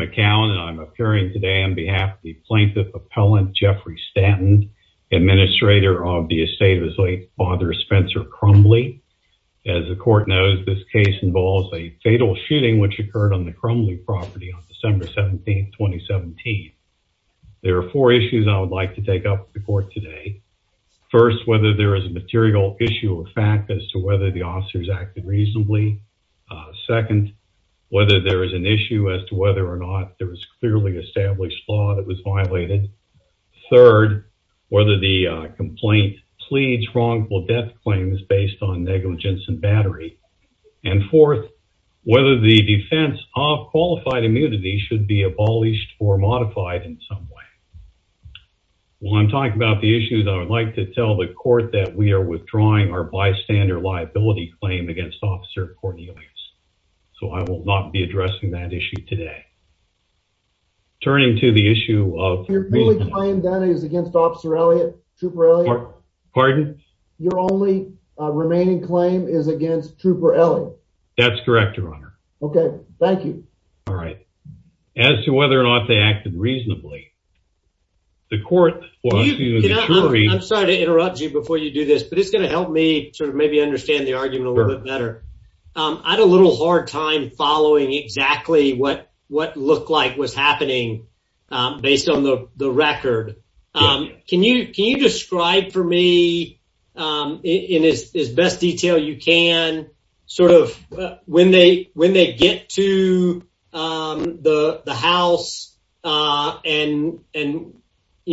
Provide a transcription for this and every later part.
McCown and I'm appearing today on behalf of the plaintiff appellant Jeffrey Stanton, administrator of the estate of his late father Spencer Crumbly. As the court knows, this case involves a fatal shooting which occurred on the Crumbly property on December 17, 2017. There are four issues I would like to take up with the court today. First, whether there is a issue as to whether or not there is clearly established law that was violated. Third, whether the complaint pleads wrongful death claim is based on negligence and battery. And fourth, whether the defense of qualified immunity should be abolished or modified in some way. While I'm talking about the issues, I would like to tell the court that we are withdrawing our bystander liability claim against Officer Cornelius, so I will not be addressing that issue today. Turning to the issue of... Your only claim is against Officer Elliott? Trooper Elliott? Pardon? Your only remaining claim is against Trooper Elliott? That's correct, your honor. Okay, thank you. All right. As to whether or not they acted reasonably, the court... I'm sorry to interrupt you before you do this, but it's going to help me sort of maybe understand the argument a little bit better. I had a little hard time following exactly what looked like was happening based on the record. Can you describe for me, in as best detail you can, sort of when they get to the house? And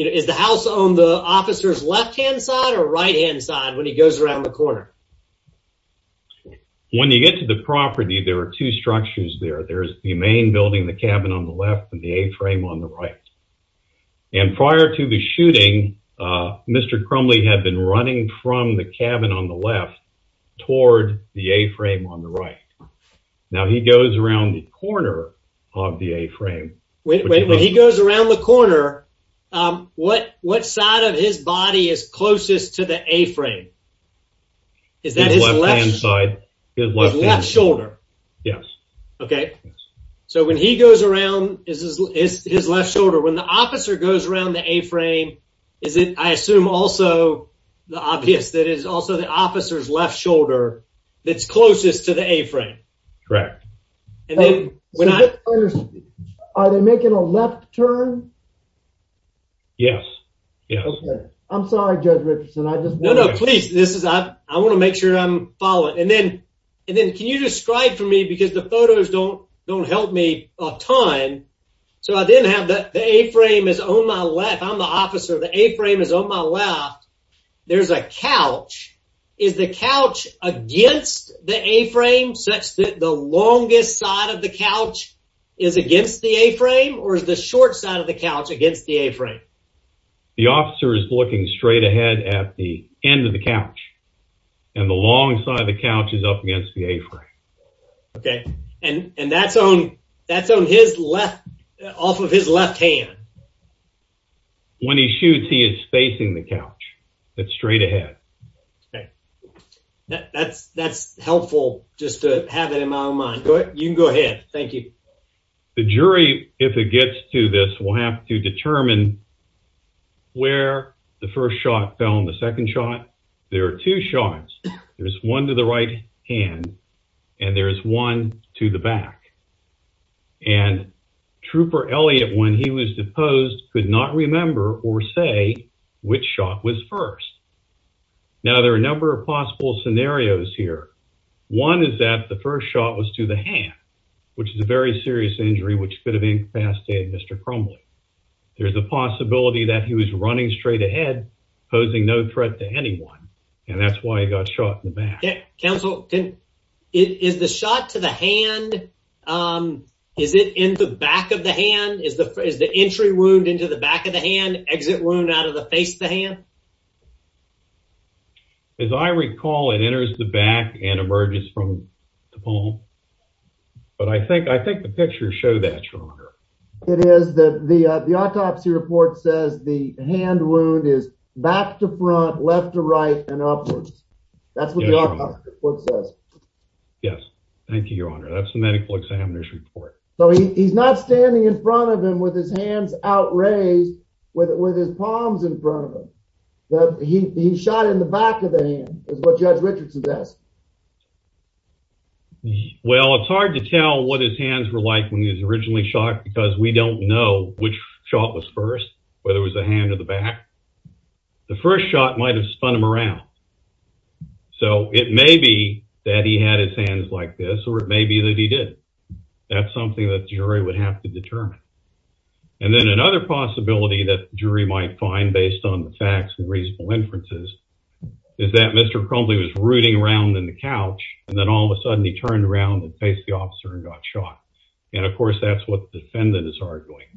is the house on the officer's left-hand side or right-hand side when he goes around the corner? When you get to the property, there are two structures there. There's the main building, the cabin on the left, and the A-frame on the right. And prior to the shooting, Mr. Crumley had been running from the cabin on the left toward the A-frame on the right. Now, he goes around the corner of the A-frame. Wait, when he goes around the corner, what side of his body is closest to the A-frame? His left-hand side. His left shoulder. Yes. Okay. So when he goes around his left shoulder, when the officer goes around the A-frame, I assume also the officer's left shoulder that's closest to the A-frame. Correct. Are they making a left turn? Yes. Okay. I'm sorry, Judge Richardson. No, no, please. I want to make sure I'm following. And then can you describe for me, because the A-frame is on my left. There's a couch. Is the couch against the A-frame, such that the longest side of the couch is against the A-frame, or is the short side of the couch against the A-frame? The officer is looking straight ahead at the end of the couch, and the long side of the couch is up against the A-frame. Okay. And that's off of his left hand? When he shoots, he is facing the couch. That's straight ahead. Okay. That's helpful just to have it in my own mind. You can go ahead. Thank you. The jury, if it gets to this, will have to determine where the first shot fell and the second shot. There are two shots. There's one to the right hand, and there's one to the back. And Trooper Elliott, when he was deposed, could not remember or say which shot was first. Now, there are a number of possible scenarios here. One is that the first shot was to the hand, which is a very serious injury which could have incapacitated Mr. Crumbly. There's a possibility that he was running straight ahead, posing no threat to anyone, and that's why he got shot in the back. Counsel, is the shot to the hand, is it in the back of the hand? Is the entry wound into the back of the hand, exit wound out of the face of the hand? As I recall, it enters the back and emerges from the palm. But I think the pictures show that, Your Honor. It is. The report says. Yes, thank you, Your Honor. That's the medical examiner's report. So he's not standing in front of him with his hands outraised, with his palms in front of him. He shot in the back of the hand, is what Judge Richards has asked. Well, it's hard to tell what his hands were like when he was originally shot because we don't know which shot was first, whether it was the hand or the back. The first shot might have spun him around. So it may be that he had his hands like this, or it may be that he didn't. That's something that the jury would have to determine. And then another possibility that the jury might find, based on the facts and reasonable inferences, is that Mr. Crumbly was rooting around in the couch, and then all of a sudden he turned around and faced the officer and got shot. And of course, that's what the defendant is arguing.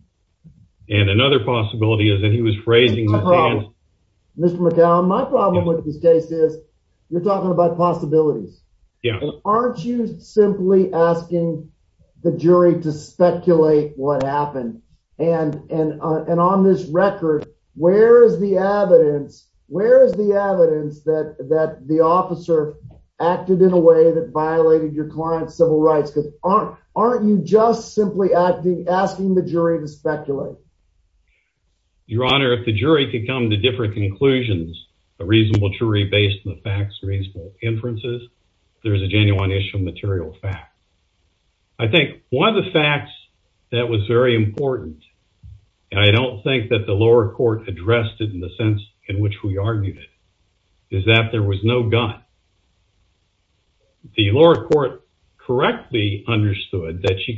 And another possibility is that he was raising his hands. Mr. McCallum, my problem with this case is you're talking about possibilities. Aren't you simply asking the jury to speculate what happened? And on this record, where is the evidence that the officer acted in a way that violated your client's civil rights? Aren't you just simply asking the jury to speculate? Your Honor, if the jury can come to different conclusions, a reasonable jury based on the facts, reasonable inferences, there's a genuine issue of material fact. I think one of the facts that was very important, and I don't think that the lower court addressed it in the sense in which we argued it, is that there was no gun. The lower court correctly understood that she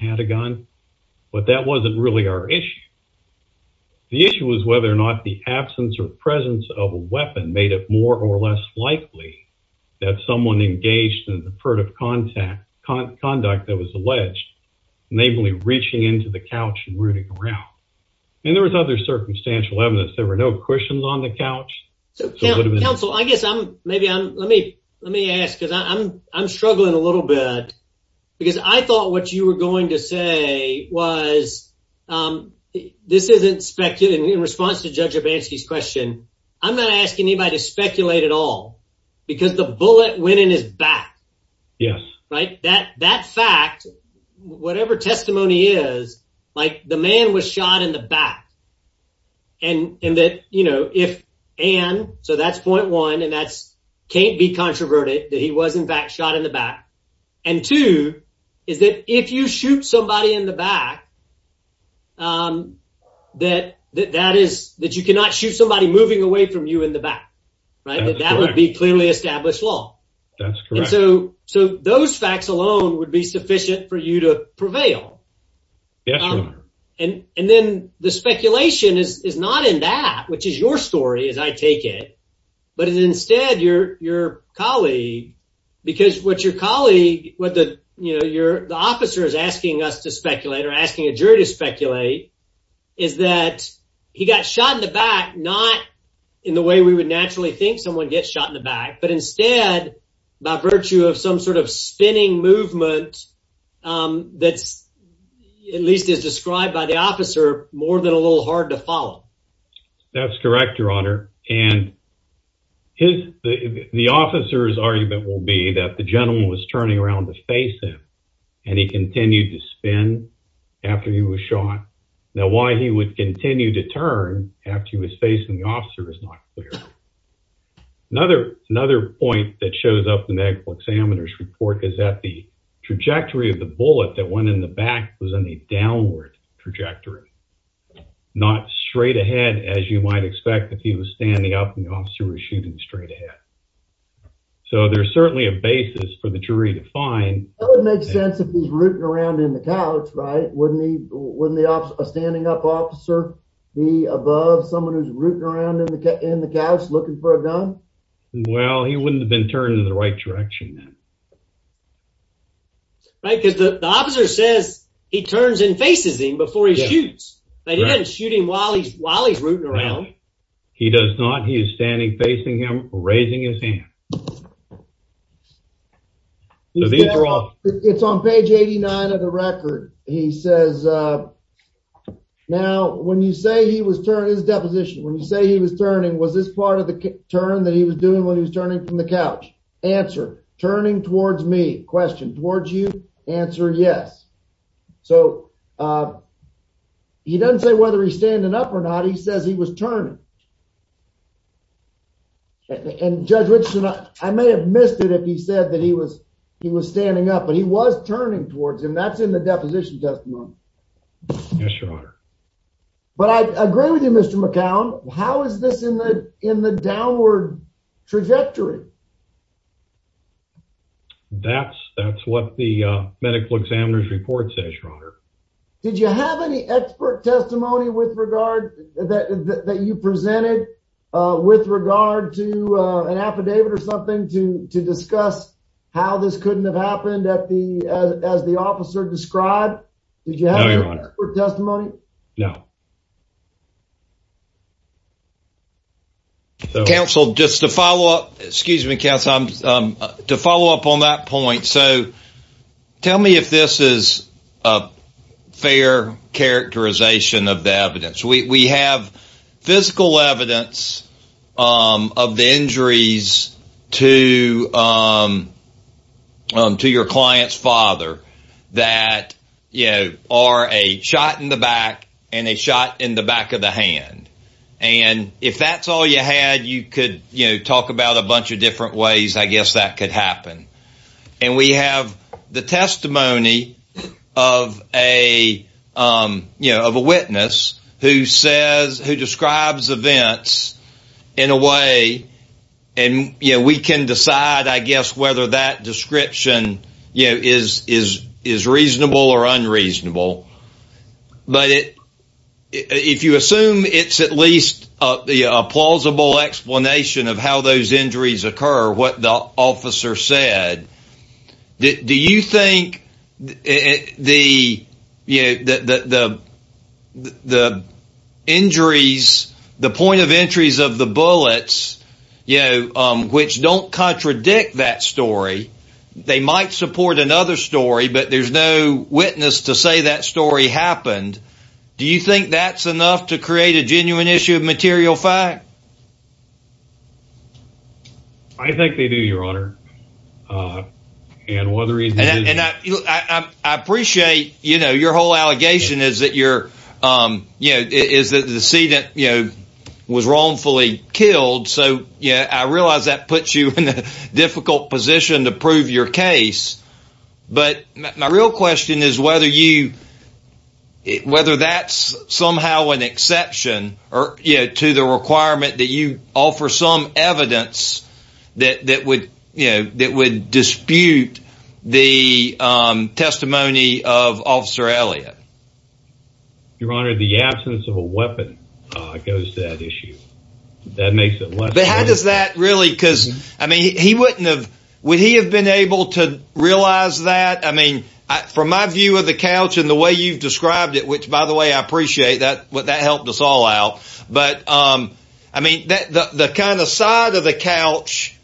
had a gun, but that wasn't really our issue. The issue was whether or not the absence or presence of a weapon made it more or less likely that someone engaged in the furtive conduct that was alleged, namely reaching into the couch and rooting around. And there was other circumstantial evidence. There were no cushions on the couch. So counsel, I guess I'm, maybe I'm, let me ask because I'm struggling a little bit, because I thought what you were going to say was, this isn't speculating. In response to Judge Urbanski's question, I'm not asking anybody to speculate at all, because the bullet went in his back, right? That fact, whatever testimony is, like the man was shot in the back, and that, you know, if Ann, so that's point one, and that's controversial, that he was in fact shot in the back. And two, is that if you shoot somebody in the back, that that is, that you cannot shoot somebody moving away from you in the back, right? That would be clearly established law. That's correct. So those facts alone would be sufficient for you to prevail. Yes, Your Honor. And then the speculation is not in that, which is your story, as I take it, but is instead your colleague, because what your colleague, what the, you know, your, the officer is asking us to speculate, or asking a jury to speculate, is that he got shot in the back, not in the way we would naturally think someone gets shot in the back, but instead by virtue of some sort of spinning movement that's, at least as described by the officer, more than a little hard to follow. That's correct, Your Honor. And his, the officer's argument will be that the gentleman was turning around to face him, and he continued to spin after he was shot. Now why he would continue to turn after he was facing the officer is not clear. Another, another point that shows up in the examiner's report is that the trajectory, not straight ahead as you might expect if he was standing up and the officer was shooting straight ahead. So there's certainly a basis for the jury to find. That would make sense if he's rooting around in the couch, right? Wouldn't he, wouldn't the standing up officer be above someone who's rooting around in the, in the couch looking for a gun? Well, he wouldn't have been turning in the right direction then. Right, because the officer says he turns and faces him before he shoots, but he doesn't shoot him while he's, while he's rooting around. He does not. He is standing facing him, raising his hand. So these are all, it's on page 89 of the record. He says, now when you say he was turning, his deposition, when you say he was turning, was this part of the turn that he was doing when he was turning from the couch? Answer. Turning towards me. Question. Towards you. Answer. Yes. So he doesn't say whether he's standing up or not. He says he was turning. And Judge Richardson, I may have missed it if he said that he was, he was standing up, but he was turning towards him. That's in the deposition testimony. Yes, your honor. But I agree with you, Mr. McCown. How is this in the, in the downward trajectory? That's, that's what the medical examiner's report says, your honor. Did you have any expert testimony with regard that, that you presented with regard to an affidavit or something to, to discuss how this couldn't have happened at the, as the officer described? Did you have any expert testimony? No. Counsel, just to follow up, excuse me, counsel, to follow up on that point. So tell me if this is a fair characterization of the evidence. We, we have physical evidence of the injuries to, to your client's father that, you know, are a shot in the back and a shot in the back of the hand. And if that's all you had, you could, you know, talk about a bunch of different ways, I guess that could happen. And we have the testimony of a, you know, of a witness who says, who describes events in a way and, you know, we can decide, I guess, whether that description, you know, is, is, is reasonable or unreasonable. But it, if you assume it's at least a plausible explanation of how those injuries occur, what the officer said, do you think it, the, you know, the, the, the injuries, the point of entries of the bullets, you know, which don't contradict that story, they might support another story, but there's no witness to say that story happened. Do you think that's enough to create a genuine issue of material fact? I think they do, your honor. And whether he's, and I appreciate, you know, your whole allegation is that you're, you know, is that the scene that, you know, was wrongfully killed. So, yeah, I realize that puts you in a difficult position to prove your case. But my real question is whether you, whether that's somehow an exception or, you know, to the requirement that you offer some evidence that, that would, you know, that would dispute the testimony of Officer Elliott. Your honor, the absence of a weapon goes to that issue. That makes it less. But how does that really, because I mean, he wouldn't have, would he have been able to realize that? I mean, from my view of the couch and the way you've described it, which, by the way, I appreciate that, what that helped us all out. But I mean, the kind of side of the couch,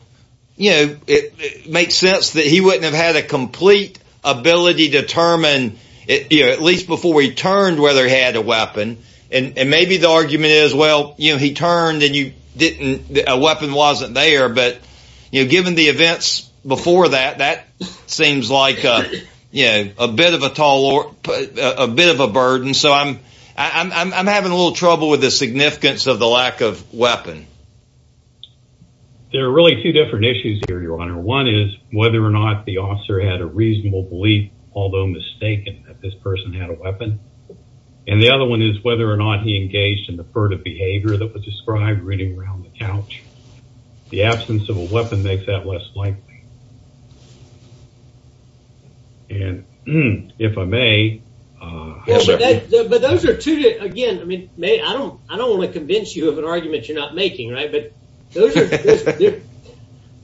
you know, it makes sense that he wouldn't have had a complete ability to determine it, you know, at least before he turned whether he had a weapon. And maybe the argument is, well, you know, he turned and you didn't, a weapon wasn't there. But, you know, given the events before that, that seems like, you know, a bit of a toll or a bit of a burden. So I'm, I'm having a little trouble with the significance of the lack of weapon. There are really two different issues here, your honor. One is whether or not the officer had a reasonable belief, although mistaken, that this person had a weapon. And the other one is whether or not he engaged in the furtive behavior that was described reading around the couch. The absence of a weapon makes that less likely. And if I may... But those are two, again, I mean, I don't, I don't want to convince you of an argument you're not making, right? But those are,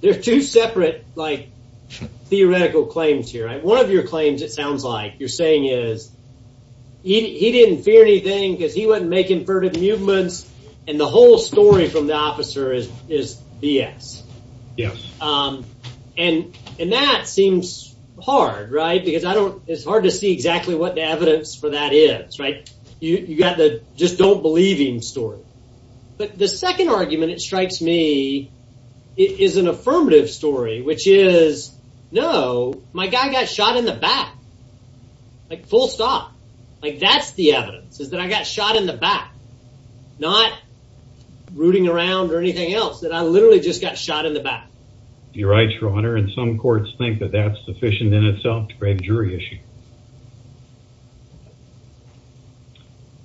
they're two separate, like, theoretical claims here, right? One of your claims, it sounds like you're saying is, he didn't fear anything, because he wasn't making furtive movements. And the whole story from the officer is BS. Yeah. And, and that seems hard, right? Because I don't, it's hard to see exactly what the evidence for that is, right? You got the just don't believe him story. But the second argument that strikes me is an affirmative story, which is, no, my guy got shot in the back. Like, full stop. Like, that's the evidence is that I got shot in the back, not rooting around or anything else that I literally just got shot in the back. You're right, your honor. And some courts think that that's sufficient in itself to break a jury issue.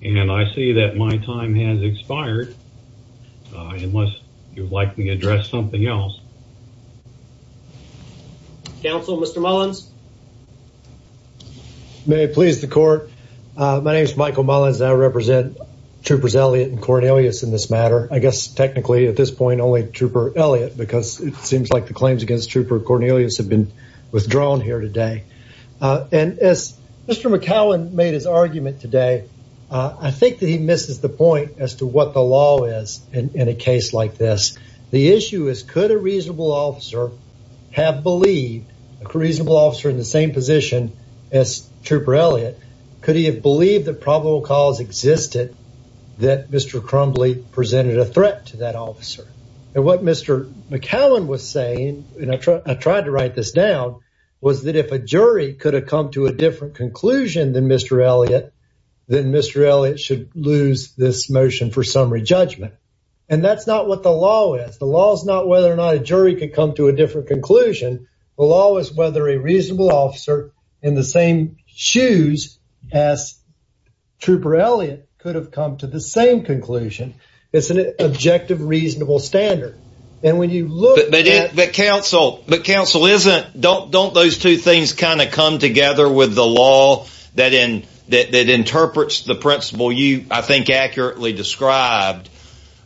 And I see that my time has expired, unless you'd like me to address something else. Counsel, Mr. Mullins. May it please the court. My name is Michael Mullins, and I represent Troopers Elliott and Cornelius in this matter. I guess technically at this point, only Trooper Elliott, because it seems like the claims against Trooper Cornelius have been withdrawn here today. And as Mr. McCowan made his argument today, I think that he misses the point as to what the law is in a case like this. The issue is, could a reasonable officer have believed a reasonable officer in the same position as Trooper Elliott? Could he have believed that existed, that Mr. Crumbly presented a threat to that officer? And what Mr. McCowan was saying, and I tried to write this down, was that if a jury could have come to a different conclusion than Mr. Elliott, then Mr. Elliott should lose this motion for summary judgment. And that's not what the law is. The law is not whether or not a jury could come to a different conclusion. The law is whether a reasonable officer in the same shoes as Trooper Elliott could have come to the same conclusion. It's an objective, reasonable standard. And when you look at- But counsel, don't those two things kind of come together with the law that interprets the principle I think accurately described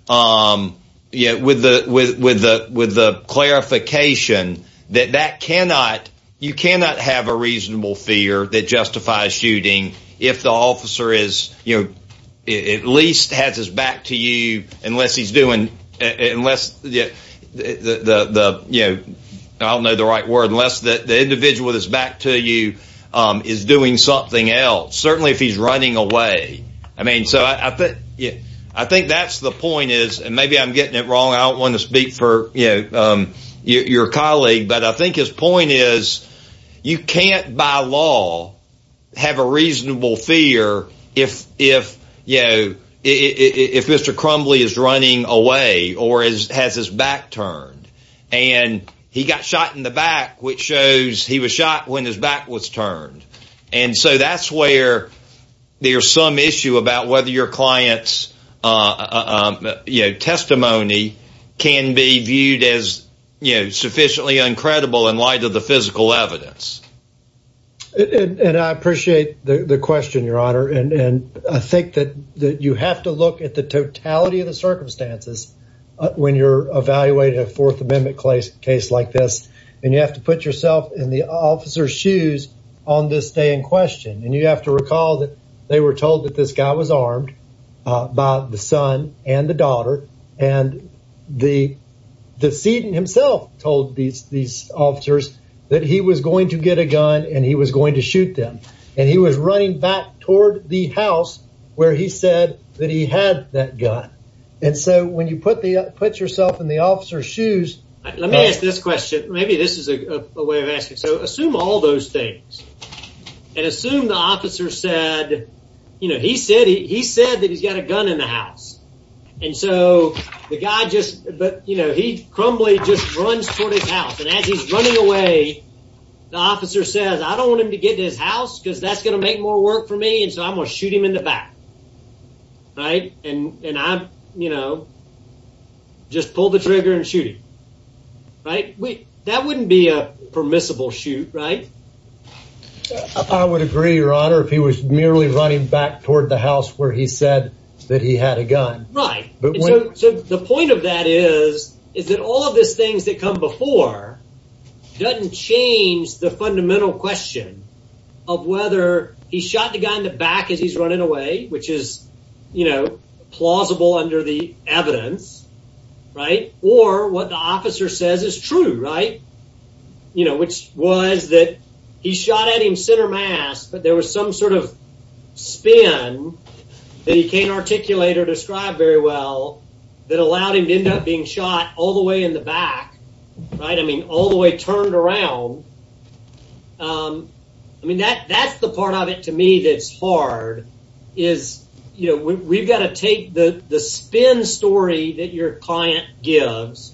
with the clarification that you cannot have a reasonable fear that justifies shooting if the officer at least has his back to you unless he's doing- I don't know the right word- unless the individual that's back to you is doing something else. Certainly if he's running away. I mean, so I think that's the point is, and maybe I'm getting it wrong, I don't want to speak for your colleague, but I think his point is you can't by law have a reasonable fear if Mr. Crumbly is running away or has his back turned. And he got shot in the back, which shows he was when his back was turned. And so that's where there's some issue about whether your client's testimony can be viewed as sufficiently uncredible in light of the physical evidence. And I appreciate the question, Your Honor. And I think that you have to look at the totality of the circumstances when you're evaluating a Fourth Amendment case like this. And you have to put yourself in the officer's shoes on this day in question. And you have to recall that they were told that this guy was armed by the son and the daughter. And the decedent himself told these officers that he was going to get a gun and he was going to shoot them. And he was running back toward the house where he said that he had that gun. And so when you put yourself in the officer's question, maybe this is a way of asking. So assume all those things. And assume the officer said, you know, he said he said that he's got a gun in the house. And so the guy just, but you know, he crumbly just runs toward his house. And as he's running away, the officer says, I don't want him to get to his house because that's going to make more work for me. And so I'm going to shoot him in the back. Right? And I'm, you know, just pull the trigger and shoot him. Right? That wouldn't be a permissible shoot, right? I would agree, your honor, if he was merely running back toward the house where he said that he had a gun. Right. So the point of that is, is that all of these things that come before doesn't change the fundamental question of whether he shot the guy in the back as he's running away, which is, you know, plausible under the evidence. Right? Or what the officer says is true. Right? You know, which was that he shot at him center mass, but there was some sort of spin that he can't articulate or describe very well that allowed him to end up being shot all the way in the back. Right? I mean, all the way turned around. I mean, that that's the part of it to me that's hard is, you know, we've got to take the the spin story that your client gives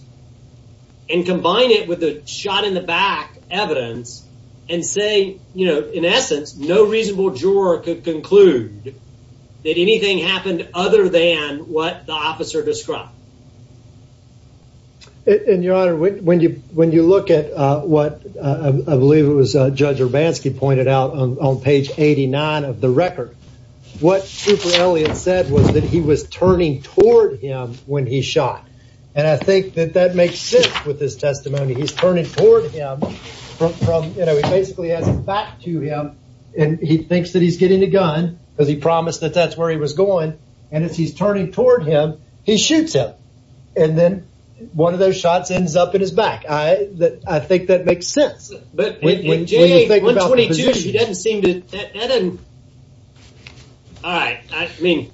and combine it with the shot in the back evidence and say, you know, in essence, no reasonable juror could conclude that anything happened other than what the officer described. And your honor, when you when you look at what I believe it was Judge Urbanski pointed out on page 89 of the record, what Super Elliot said was that he was turning toward him when he shot. And I think that that makes sense with this testimony. He's turning toward him from, you know, he basically has back to him. And he thinks that he's getting a gun because he promised that that's going. And if he's turning toward him, he shoots him. And then one of those shots ends up in his back. I that I think that makes sense. But when you think about what he did, he doesn't seem to. All right. I mean,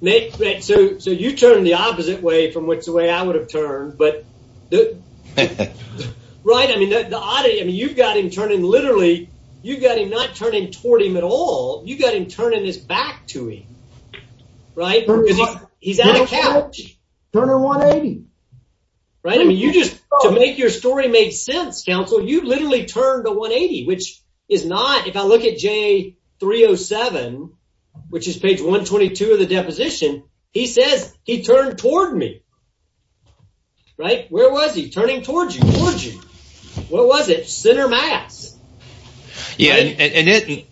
Nick, so so you turn the opposite way from which the way I would have turned. But the right. I mean, the oddity. I mean, you've got him turning literally. You've got him not turning toward him at all. You've got him turning his back to him. Right. He's out of cash. Turn a 180. Right. I mean, you just to make your story make sense. Counsel, you literally turned a 180, which is not if I look at Jay 307, which is page 122 of the deposition. He says he turned toward me. Right. Where was he turning towards you? What was it? Center mass? Yeah. And it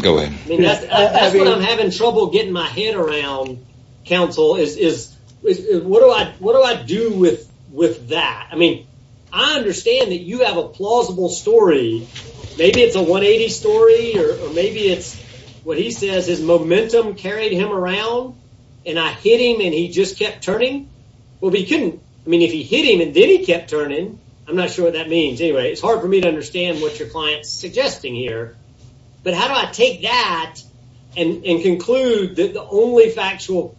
go in. I mean, that's what I'm having trouble getting my head around. Counsel is what do I what do I do with with that? I mean, I understand that you have a plausible story. Maybe it's a 180 story or maybe it's what he says. His momentum carried him around and I hit him and he just kept turning. Well, he couldn't. I mean, if he hit him and then he kept turning. I'm not sure what that means. Anyway, it's hard for me to understand what your client's suggesting here. But how do I take that and conclude that the only factual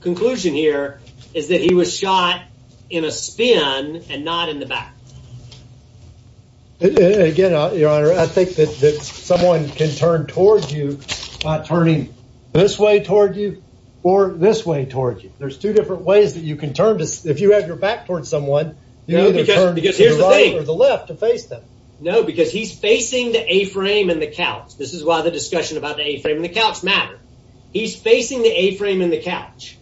conclusion here is that he was shot in a spin and not in the back? Again, your honor, I think that someone can turn towards you by turning this way toward you or this way toward you. There's two different ways that you can turn. If you have your back towards someone, you know, because here's the thing with the left to face them. No, because he's facing the A-frame and the couch. This is why the discussion about the A-frame and the couch matter. He's facing the A-frame in the couch.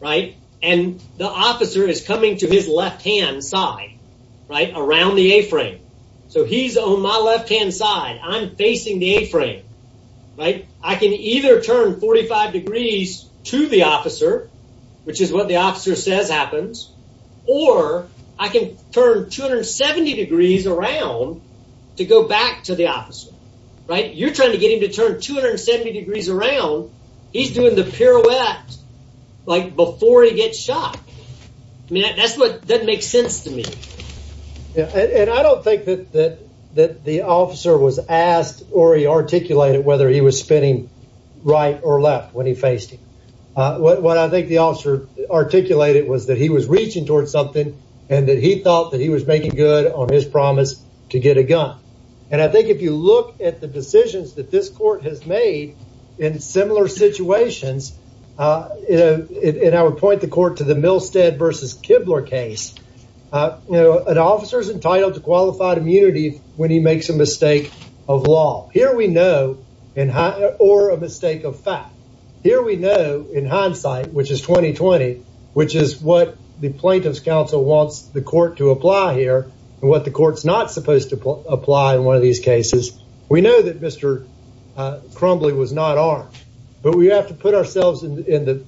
Right. And the officer is coming to his left hand side. Right. Around the A-frame. So he's on my left hand side. I'm facing the A-frame. Right. I can either turn 45 degrees to the officer, which is what the officer says happens, or I can turn 270 degrees around to go back to the officer. Right. You're trying to get him to turn 270 degrees around. He's doing the pirouette like before he gets shot. I mean, that makes sense to me. Yeah. And I don't think that the officer was asked or he articulated whether he was spinning right or left when he faced him. What I think the officer articulated was that he was reaching towards something and that he thought that he was making good on his promise to get a gun. And I think if you look at the decisions that this court has made in similar situations, and I would point the court to the Milstead versus Kibler case, an officer is entitled to qualified immunity when he makes a mistake of law. Here we know, or a mistake of fact, here we know in hindsight, which is 2020, which is what the plaintiff's counsel wants the court to apply here and what the court's not supposed to apply in one of these cases. We know that Mr. Crumbly was not armed, but we have to put ourselves in the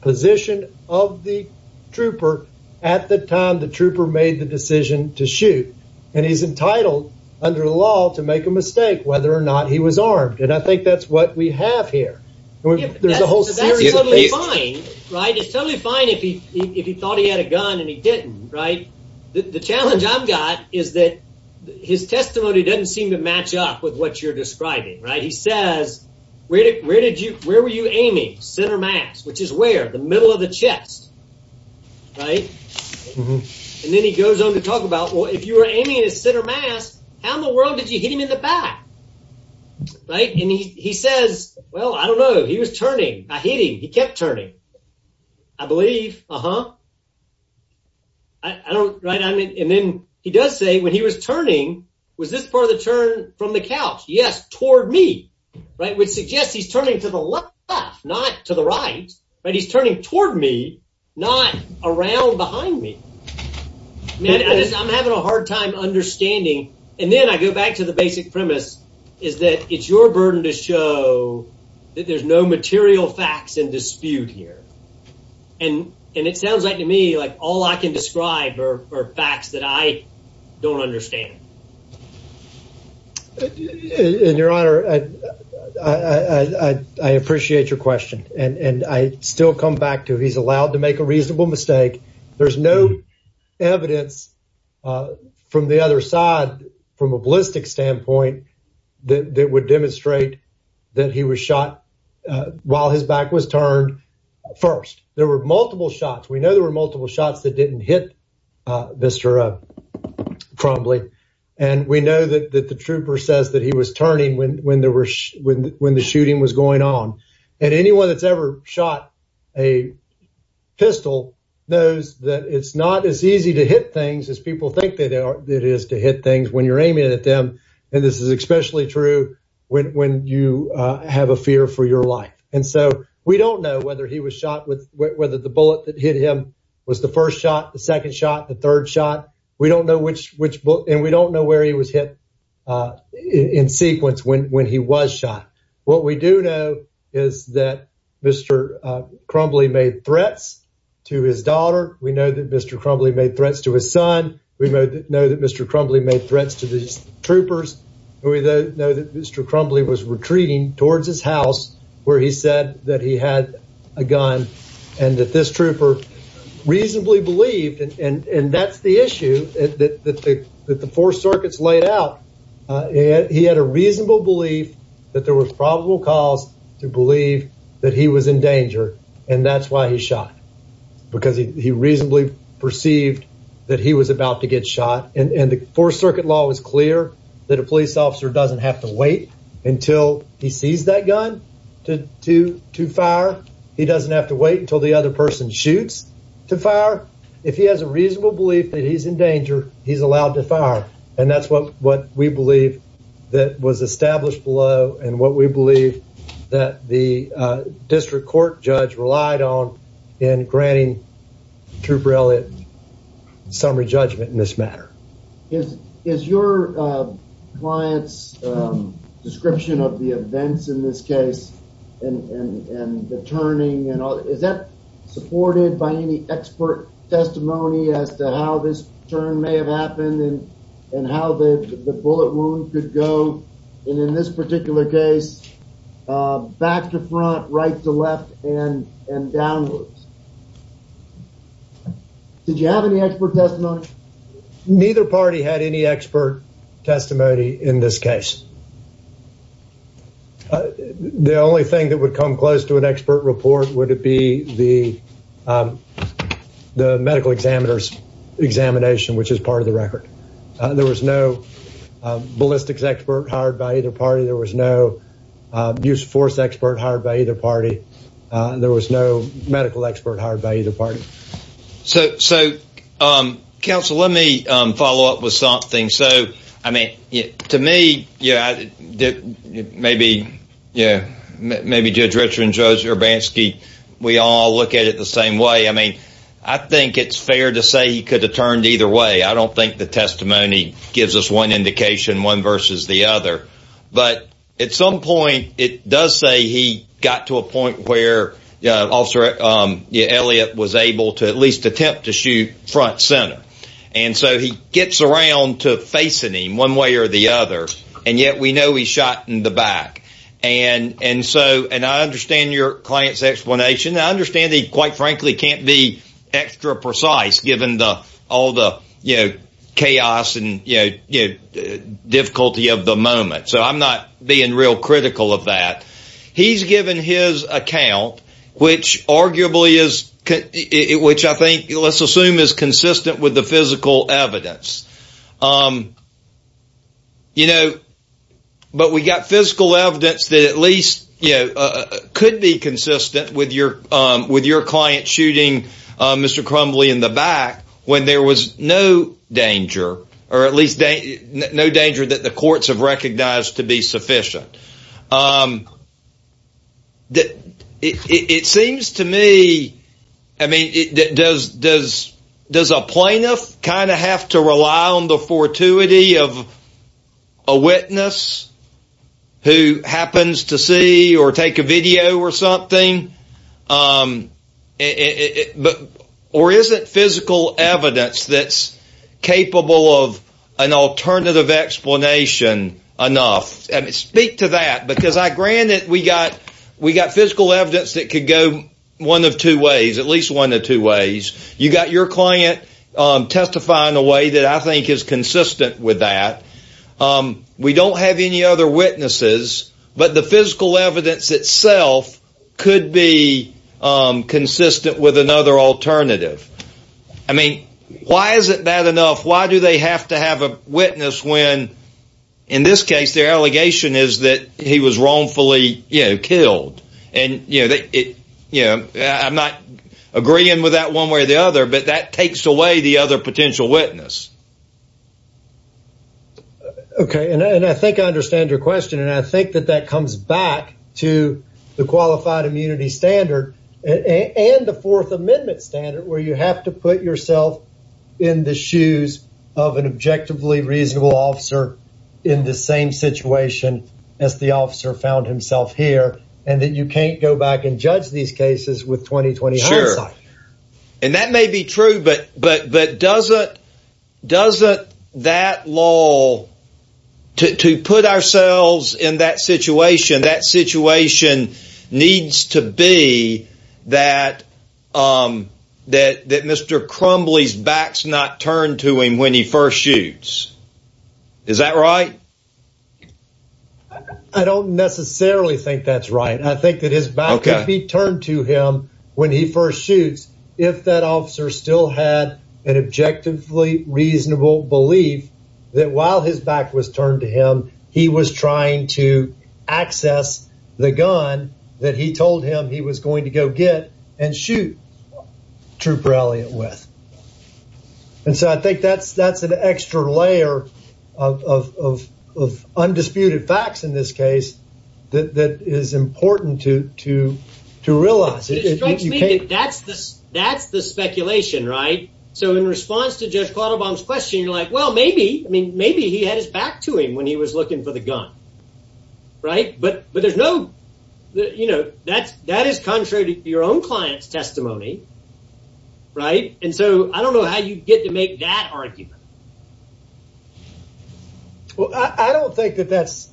position of the trooper at the time the trooper made the decision to shoot. And he's entitled under the law to make a mistake whether or not he was armed. And I think that's what we have here. There's a whole series of these. Right. It's totally fine if he thought he had a gun and he didn't. Right. The challenge I've got is that his testimony doesn't seem to match up with what you're describing. Right. He says, where did you, where were you aiming? Center mass, which is where? The middle of the chest. Right. And then he goes on to talk about, well, if you were aiming at his center mass, how in the world did you hit him in the back? Right. And he says, well, I don't know. He was hitting. He kept turning. I believe. Uh-huh. I don't. Right. I mean, and then he does say when he was turning, was this part of the turn from the couch? Yes. Toward me. Right. Which suggests he's turning to the left, not to the right. But he's turning toward me, not around behind me. Man, I'm having a hard time understanding. And then I go back to the basic premise is that it's your burden to show that there's no material facts in dispute here. And it sounds like to me, like all I can describe are facts that I don't understand. And your honor, I appreciate your question. And I still come back to he's allowed to make a that would demonstrate that he was shot while his back was turned first. There were multiple shots. We know there were multiple shots that didn't hit Mr. Crumbly. And we know that the trooper says that he was turning when there were when the shooting was going on. And anyone that's ever shot a pistol knows that it's not as easy to hit things as people think that it is to hit things when you're aiming at them. And this is especially true when you have a fear for your life. And so we don't know whether he was shot with whether the bullet that hit him was the first shot, the second shot, the third shot. We don't know which which and we don't know where he was hit in sequence when when he was shot. What we do know is that Mr. Crumbly made threats to his daughter. We know that Mr. Crumbly made threats to his son. We know that Mr. Crumbly made threats to these troopers. We know that Mr. Crumbly was retreating towards his house where he said that he had a gun and that this trooper reasonably believed and and that's the issue that the that the four circuits laid out. He had a reasonable belief that there was probable cause to believe that he was in danger and that's why he shot because he reasonably perceived that he was about to get shot and and the four circuit law was clear that a police officer doesn't have to wait until he sees that gun to to to fire. He doesn't have to wait until the other person shoots to fire. If he has a reasonable belief that he's in danger he's allowed to fire and that's what what we believe that was established below and what we believe that the district court judge relied on in granting trooper Elliott summary judgment in this matter. Is is your client's description of the events in this case and and and the turning and all is that supported by any expert testimony as to how this turn may have happened and and how the bullet wound could go and in this particular case back to front right to left and and downwards. Did you have any expert testimony? Neither party had any expert testimony in this case. The only thing that would come close to an expert report would it be the the medical examiner's examination which is part of the record. There was no ballistics expert hired by either party. There was no use force expert hired by either party. There was no medical expert hired by either party. So so council let me follow up with something. So look at it the same way. I mean I think it's fair to say he could have turned either way. I don't think the testimony gives us one indication one versus the other but at some point it does say he got to a point where officer Elliott was able to at least attempt to shoot front center and so he gets around to facing him one way or the other and yet we know he shot in the back and and so and I understand your client's explanation. I understand he quite frankly can't be extra precise given the all the you know chaos and you know you know difficulty of the moment so I'm not being real critical of that. He's given his account which arguably is which I think let's assume is consistent with the physical evidence. You know but we got physical evidence that at could be consistent with your with your client shooting Mr. Crumbly in the back when there was no danger or at least no danger that the courts have recognized to be sufficient. It seems to me I mean it does does does a plaintiff kind of have to rely on the fortuity of a witness who happens to see or take a video or something but or isn't physical evidence that's capable of an alternative explanation enough and speak to that because I granted we got we got physical evidence that could go one of two ways at least one of two ways. You got your client testify in a way that I think is consistent with that. We don't have any other witnesses but the physical evidence itself could be consistent with another alternative. I mean why is it bad enough why do they have to have a witness when in this case their allegation is that he was wrongfully you know killed and you know that it I'm not agreeing with that one way or the other but that takes away the other potential witness. Okay and I think I understand your question and I think that that comes back to the qualified immunity standard and the fourth amendment standard where you have to put yourself in the shoes of an objectively reasonable officer in the same situation as the officer found himself here and that you can't go back and judge these cases with 20-20. Sure and that may be true but but but doesn't doesn't that law to to put ourselves in that situation that situation needs to be that um that that Mr. Crumbly's back's not turned to him when he first shoots. Is that right? I don't necessarily think that's right. I think that his back could be turned to him when he first shoots if that officer still had an objectively reasonable belief that while his back was turned to him he was trying to access the gun that he told him he was going to go get and shoot Trooper Elliott with and so I think that's that's an extra layer of of of of undisputed facts in this case that that is important to to to realize. It strikes me that that's this that's the speculation right so in response to Judge Quattlebaum's question you're like well maybe I mean maybe he had his back to him when he was looking for the gun right but but no you know that's that is contrary to your own client's testimony right and so I don't know how you get to make that argument. Well I don't think that that's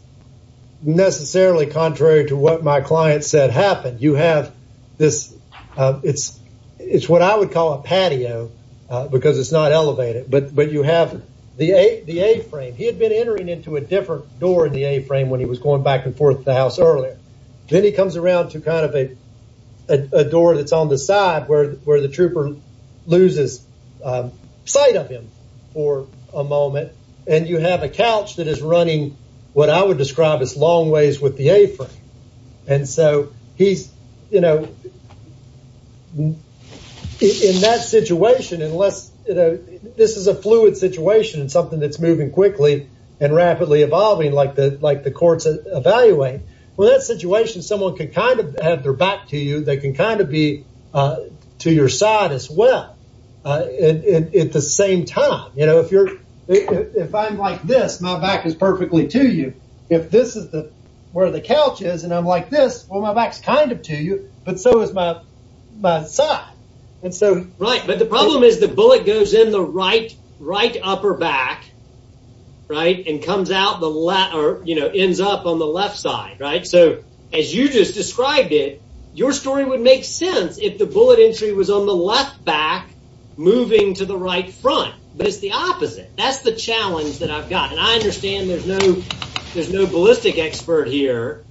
necessarily contrary to what my client said happened. You have this uh it's it's what I would call a patio uh because it's not elevated but but you have the a the a-frame he had been entering into a different door in the a-frame when he was going back and forth to the house earlier then he comes around to kind of a a door that's on the side where where the trooper loses sight of him for a moment and you have a couch that is running what I would describe as long ways with the a-frame and so he's you know in that situation unless you know this is a fluid situation and something that's moving quickly and rapidly evolving like the like the courts evaluate well that situation someone could kind of have their back to you they can kind of be uh to your side as well uh at the same time you know if you're if I'm like this my back is perfectly to you if this is the where the couch is and I'm like this well my back's kind of to you but so is my my side and so right but the problem is the right and comes out the left or you know ends up on the left side right so as you just described it your story would make sense if the bullet entry was on the left back moving to the right front but it's the opposite that's the challenge that I've got and I understand there's no there's no ballistic expert here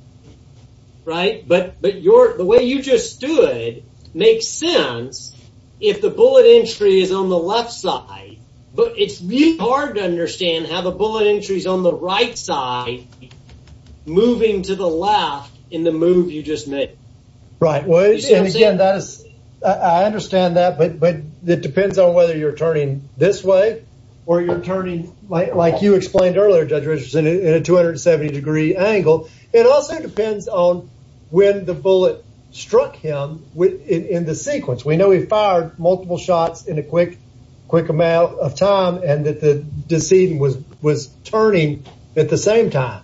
right but but your the way you just stood makes sense if the bullet entry is on the left side but it's really hard to understand how the bullet entries on the right side moving to the left in the move you just made right well and again that is I understand that but but it depends on whether you're turning this way or you're turning like you explained earlier judge Richardson in a 270 degree angle it also depends on when the bullet struck him with in the sequence we know he fired multiple shots in a quick quick amount of time and that the decedent was was turning at the same time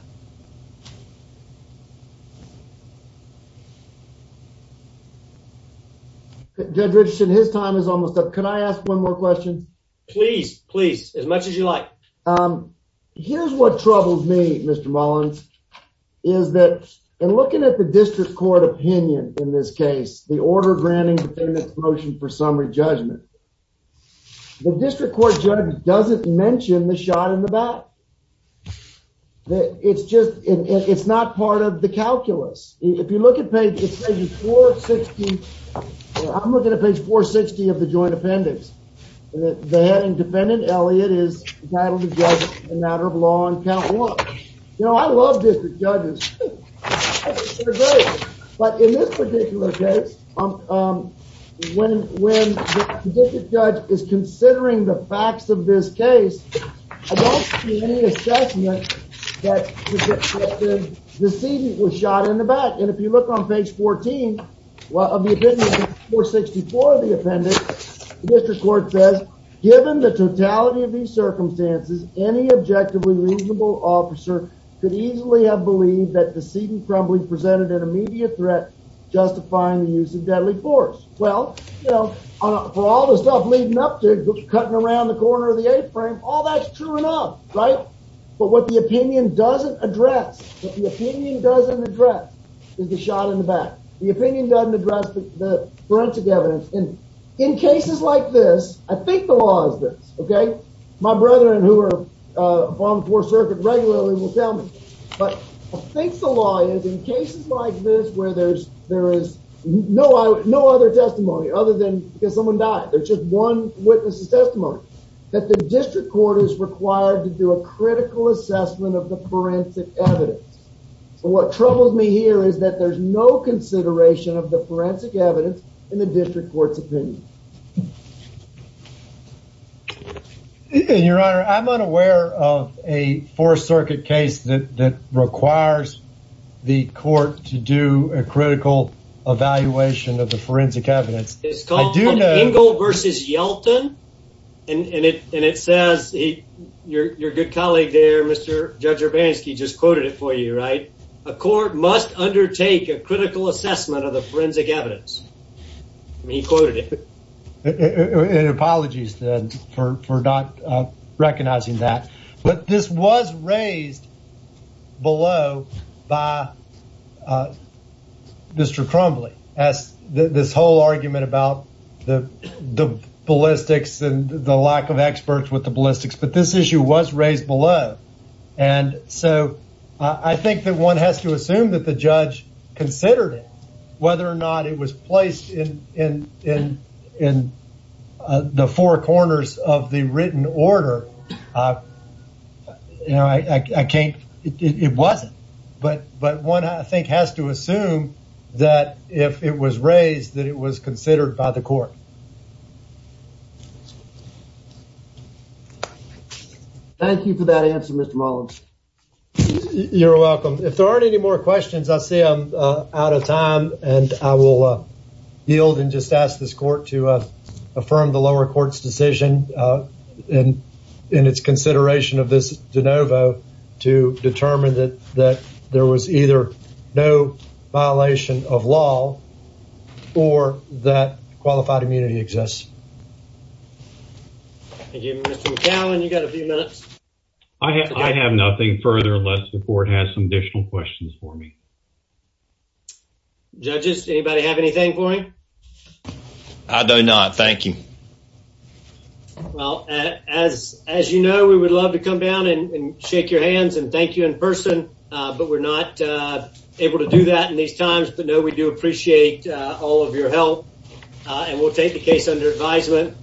judge Richardson his time is almost up can I ask one more question please please as much as you like um here's what troubles me Mr. Mullins is that in looking at the in this case the order granting the payments motion for summary judgment the district court judge doesn't mention the shot in the back that it's just it's not part of the calculus if you look at page 460 I'm looking at page 460 of the joint appendix the head and defendant Elliot is entitled to judge a matter of law and count you know I love district judges but in this particular case um um when when the district judge is considering the facts of this case I don't see any assessment that the decedent was shot in the back and if you look on page 14 well of the opinion 464 of the appendix the district court says given the totality of circumstances any objectively reasonable officer could easily have believed that the seating probably presented an immediate threat justifying the use of deadly force well you know for all the stuff leading up to cutting around the corner of the a-frame all that's true enough right but what the opinion doesn't address what the opinion doesn't address is the shot in the back the opinion doesn't address the forensic evidence and in cases like this I think the law okay my brethren who are uh on the fourth circuit regularly will tell me but I think the law is in cases like this where there's there is no no other testimony other than because someone died there's just one witness's testimony that the district court is required to do a critical assessment of the forensic evidence so what troubles me here is that there's no consideration of the and your honor I'm unaware of a fourth circuit case that that requires the court to do a critical evaluation of the forensic evidence it's called Engel versus Yelton and and it and it says he your your good colleague there Mr. Judge Urbanski just quoted it for you right a court must undertake a critical assessment of the forensic evidence he quoted it and apologies then for for not uh recognizing that but this was raised below by uh Mr. Crumbly as this whole argument about the the ballistics and the lack of experts with the ballistics but this issue was raised below and so I think that one has to assume that the judge considered it whether or not it was placed in in in uh the four corners of the written order uh you know I I can't it wasn't but but one I think has to assume that if it was raised that it was considered by the court thank you for that answer Mr. Mullins you're welcome if there aren't any more questions I am uh out of time and I will uh yield and just ask this court to uh affirm the lower court's decision uh and in its consideration of this de novo to determine that that there was either no violation of law or that qualified immunity exists thank you Mr. McAllen you got a few minutes I have nothing further unless the court has additional questions for me judges anybody have anything for me I do not thank you well as as you know we would love to come down and shake your hands and thank you in person uh but we're not uh able to do that in these times but no we do appreciate all of your help and we'll take the case under advisement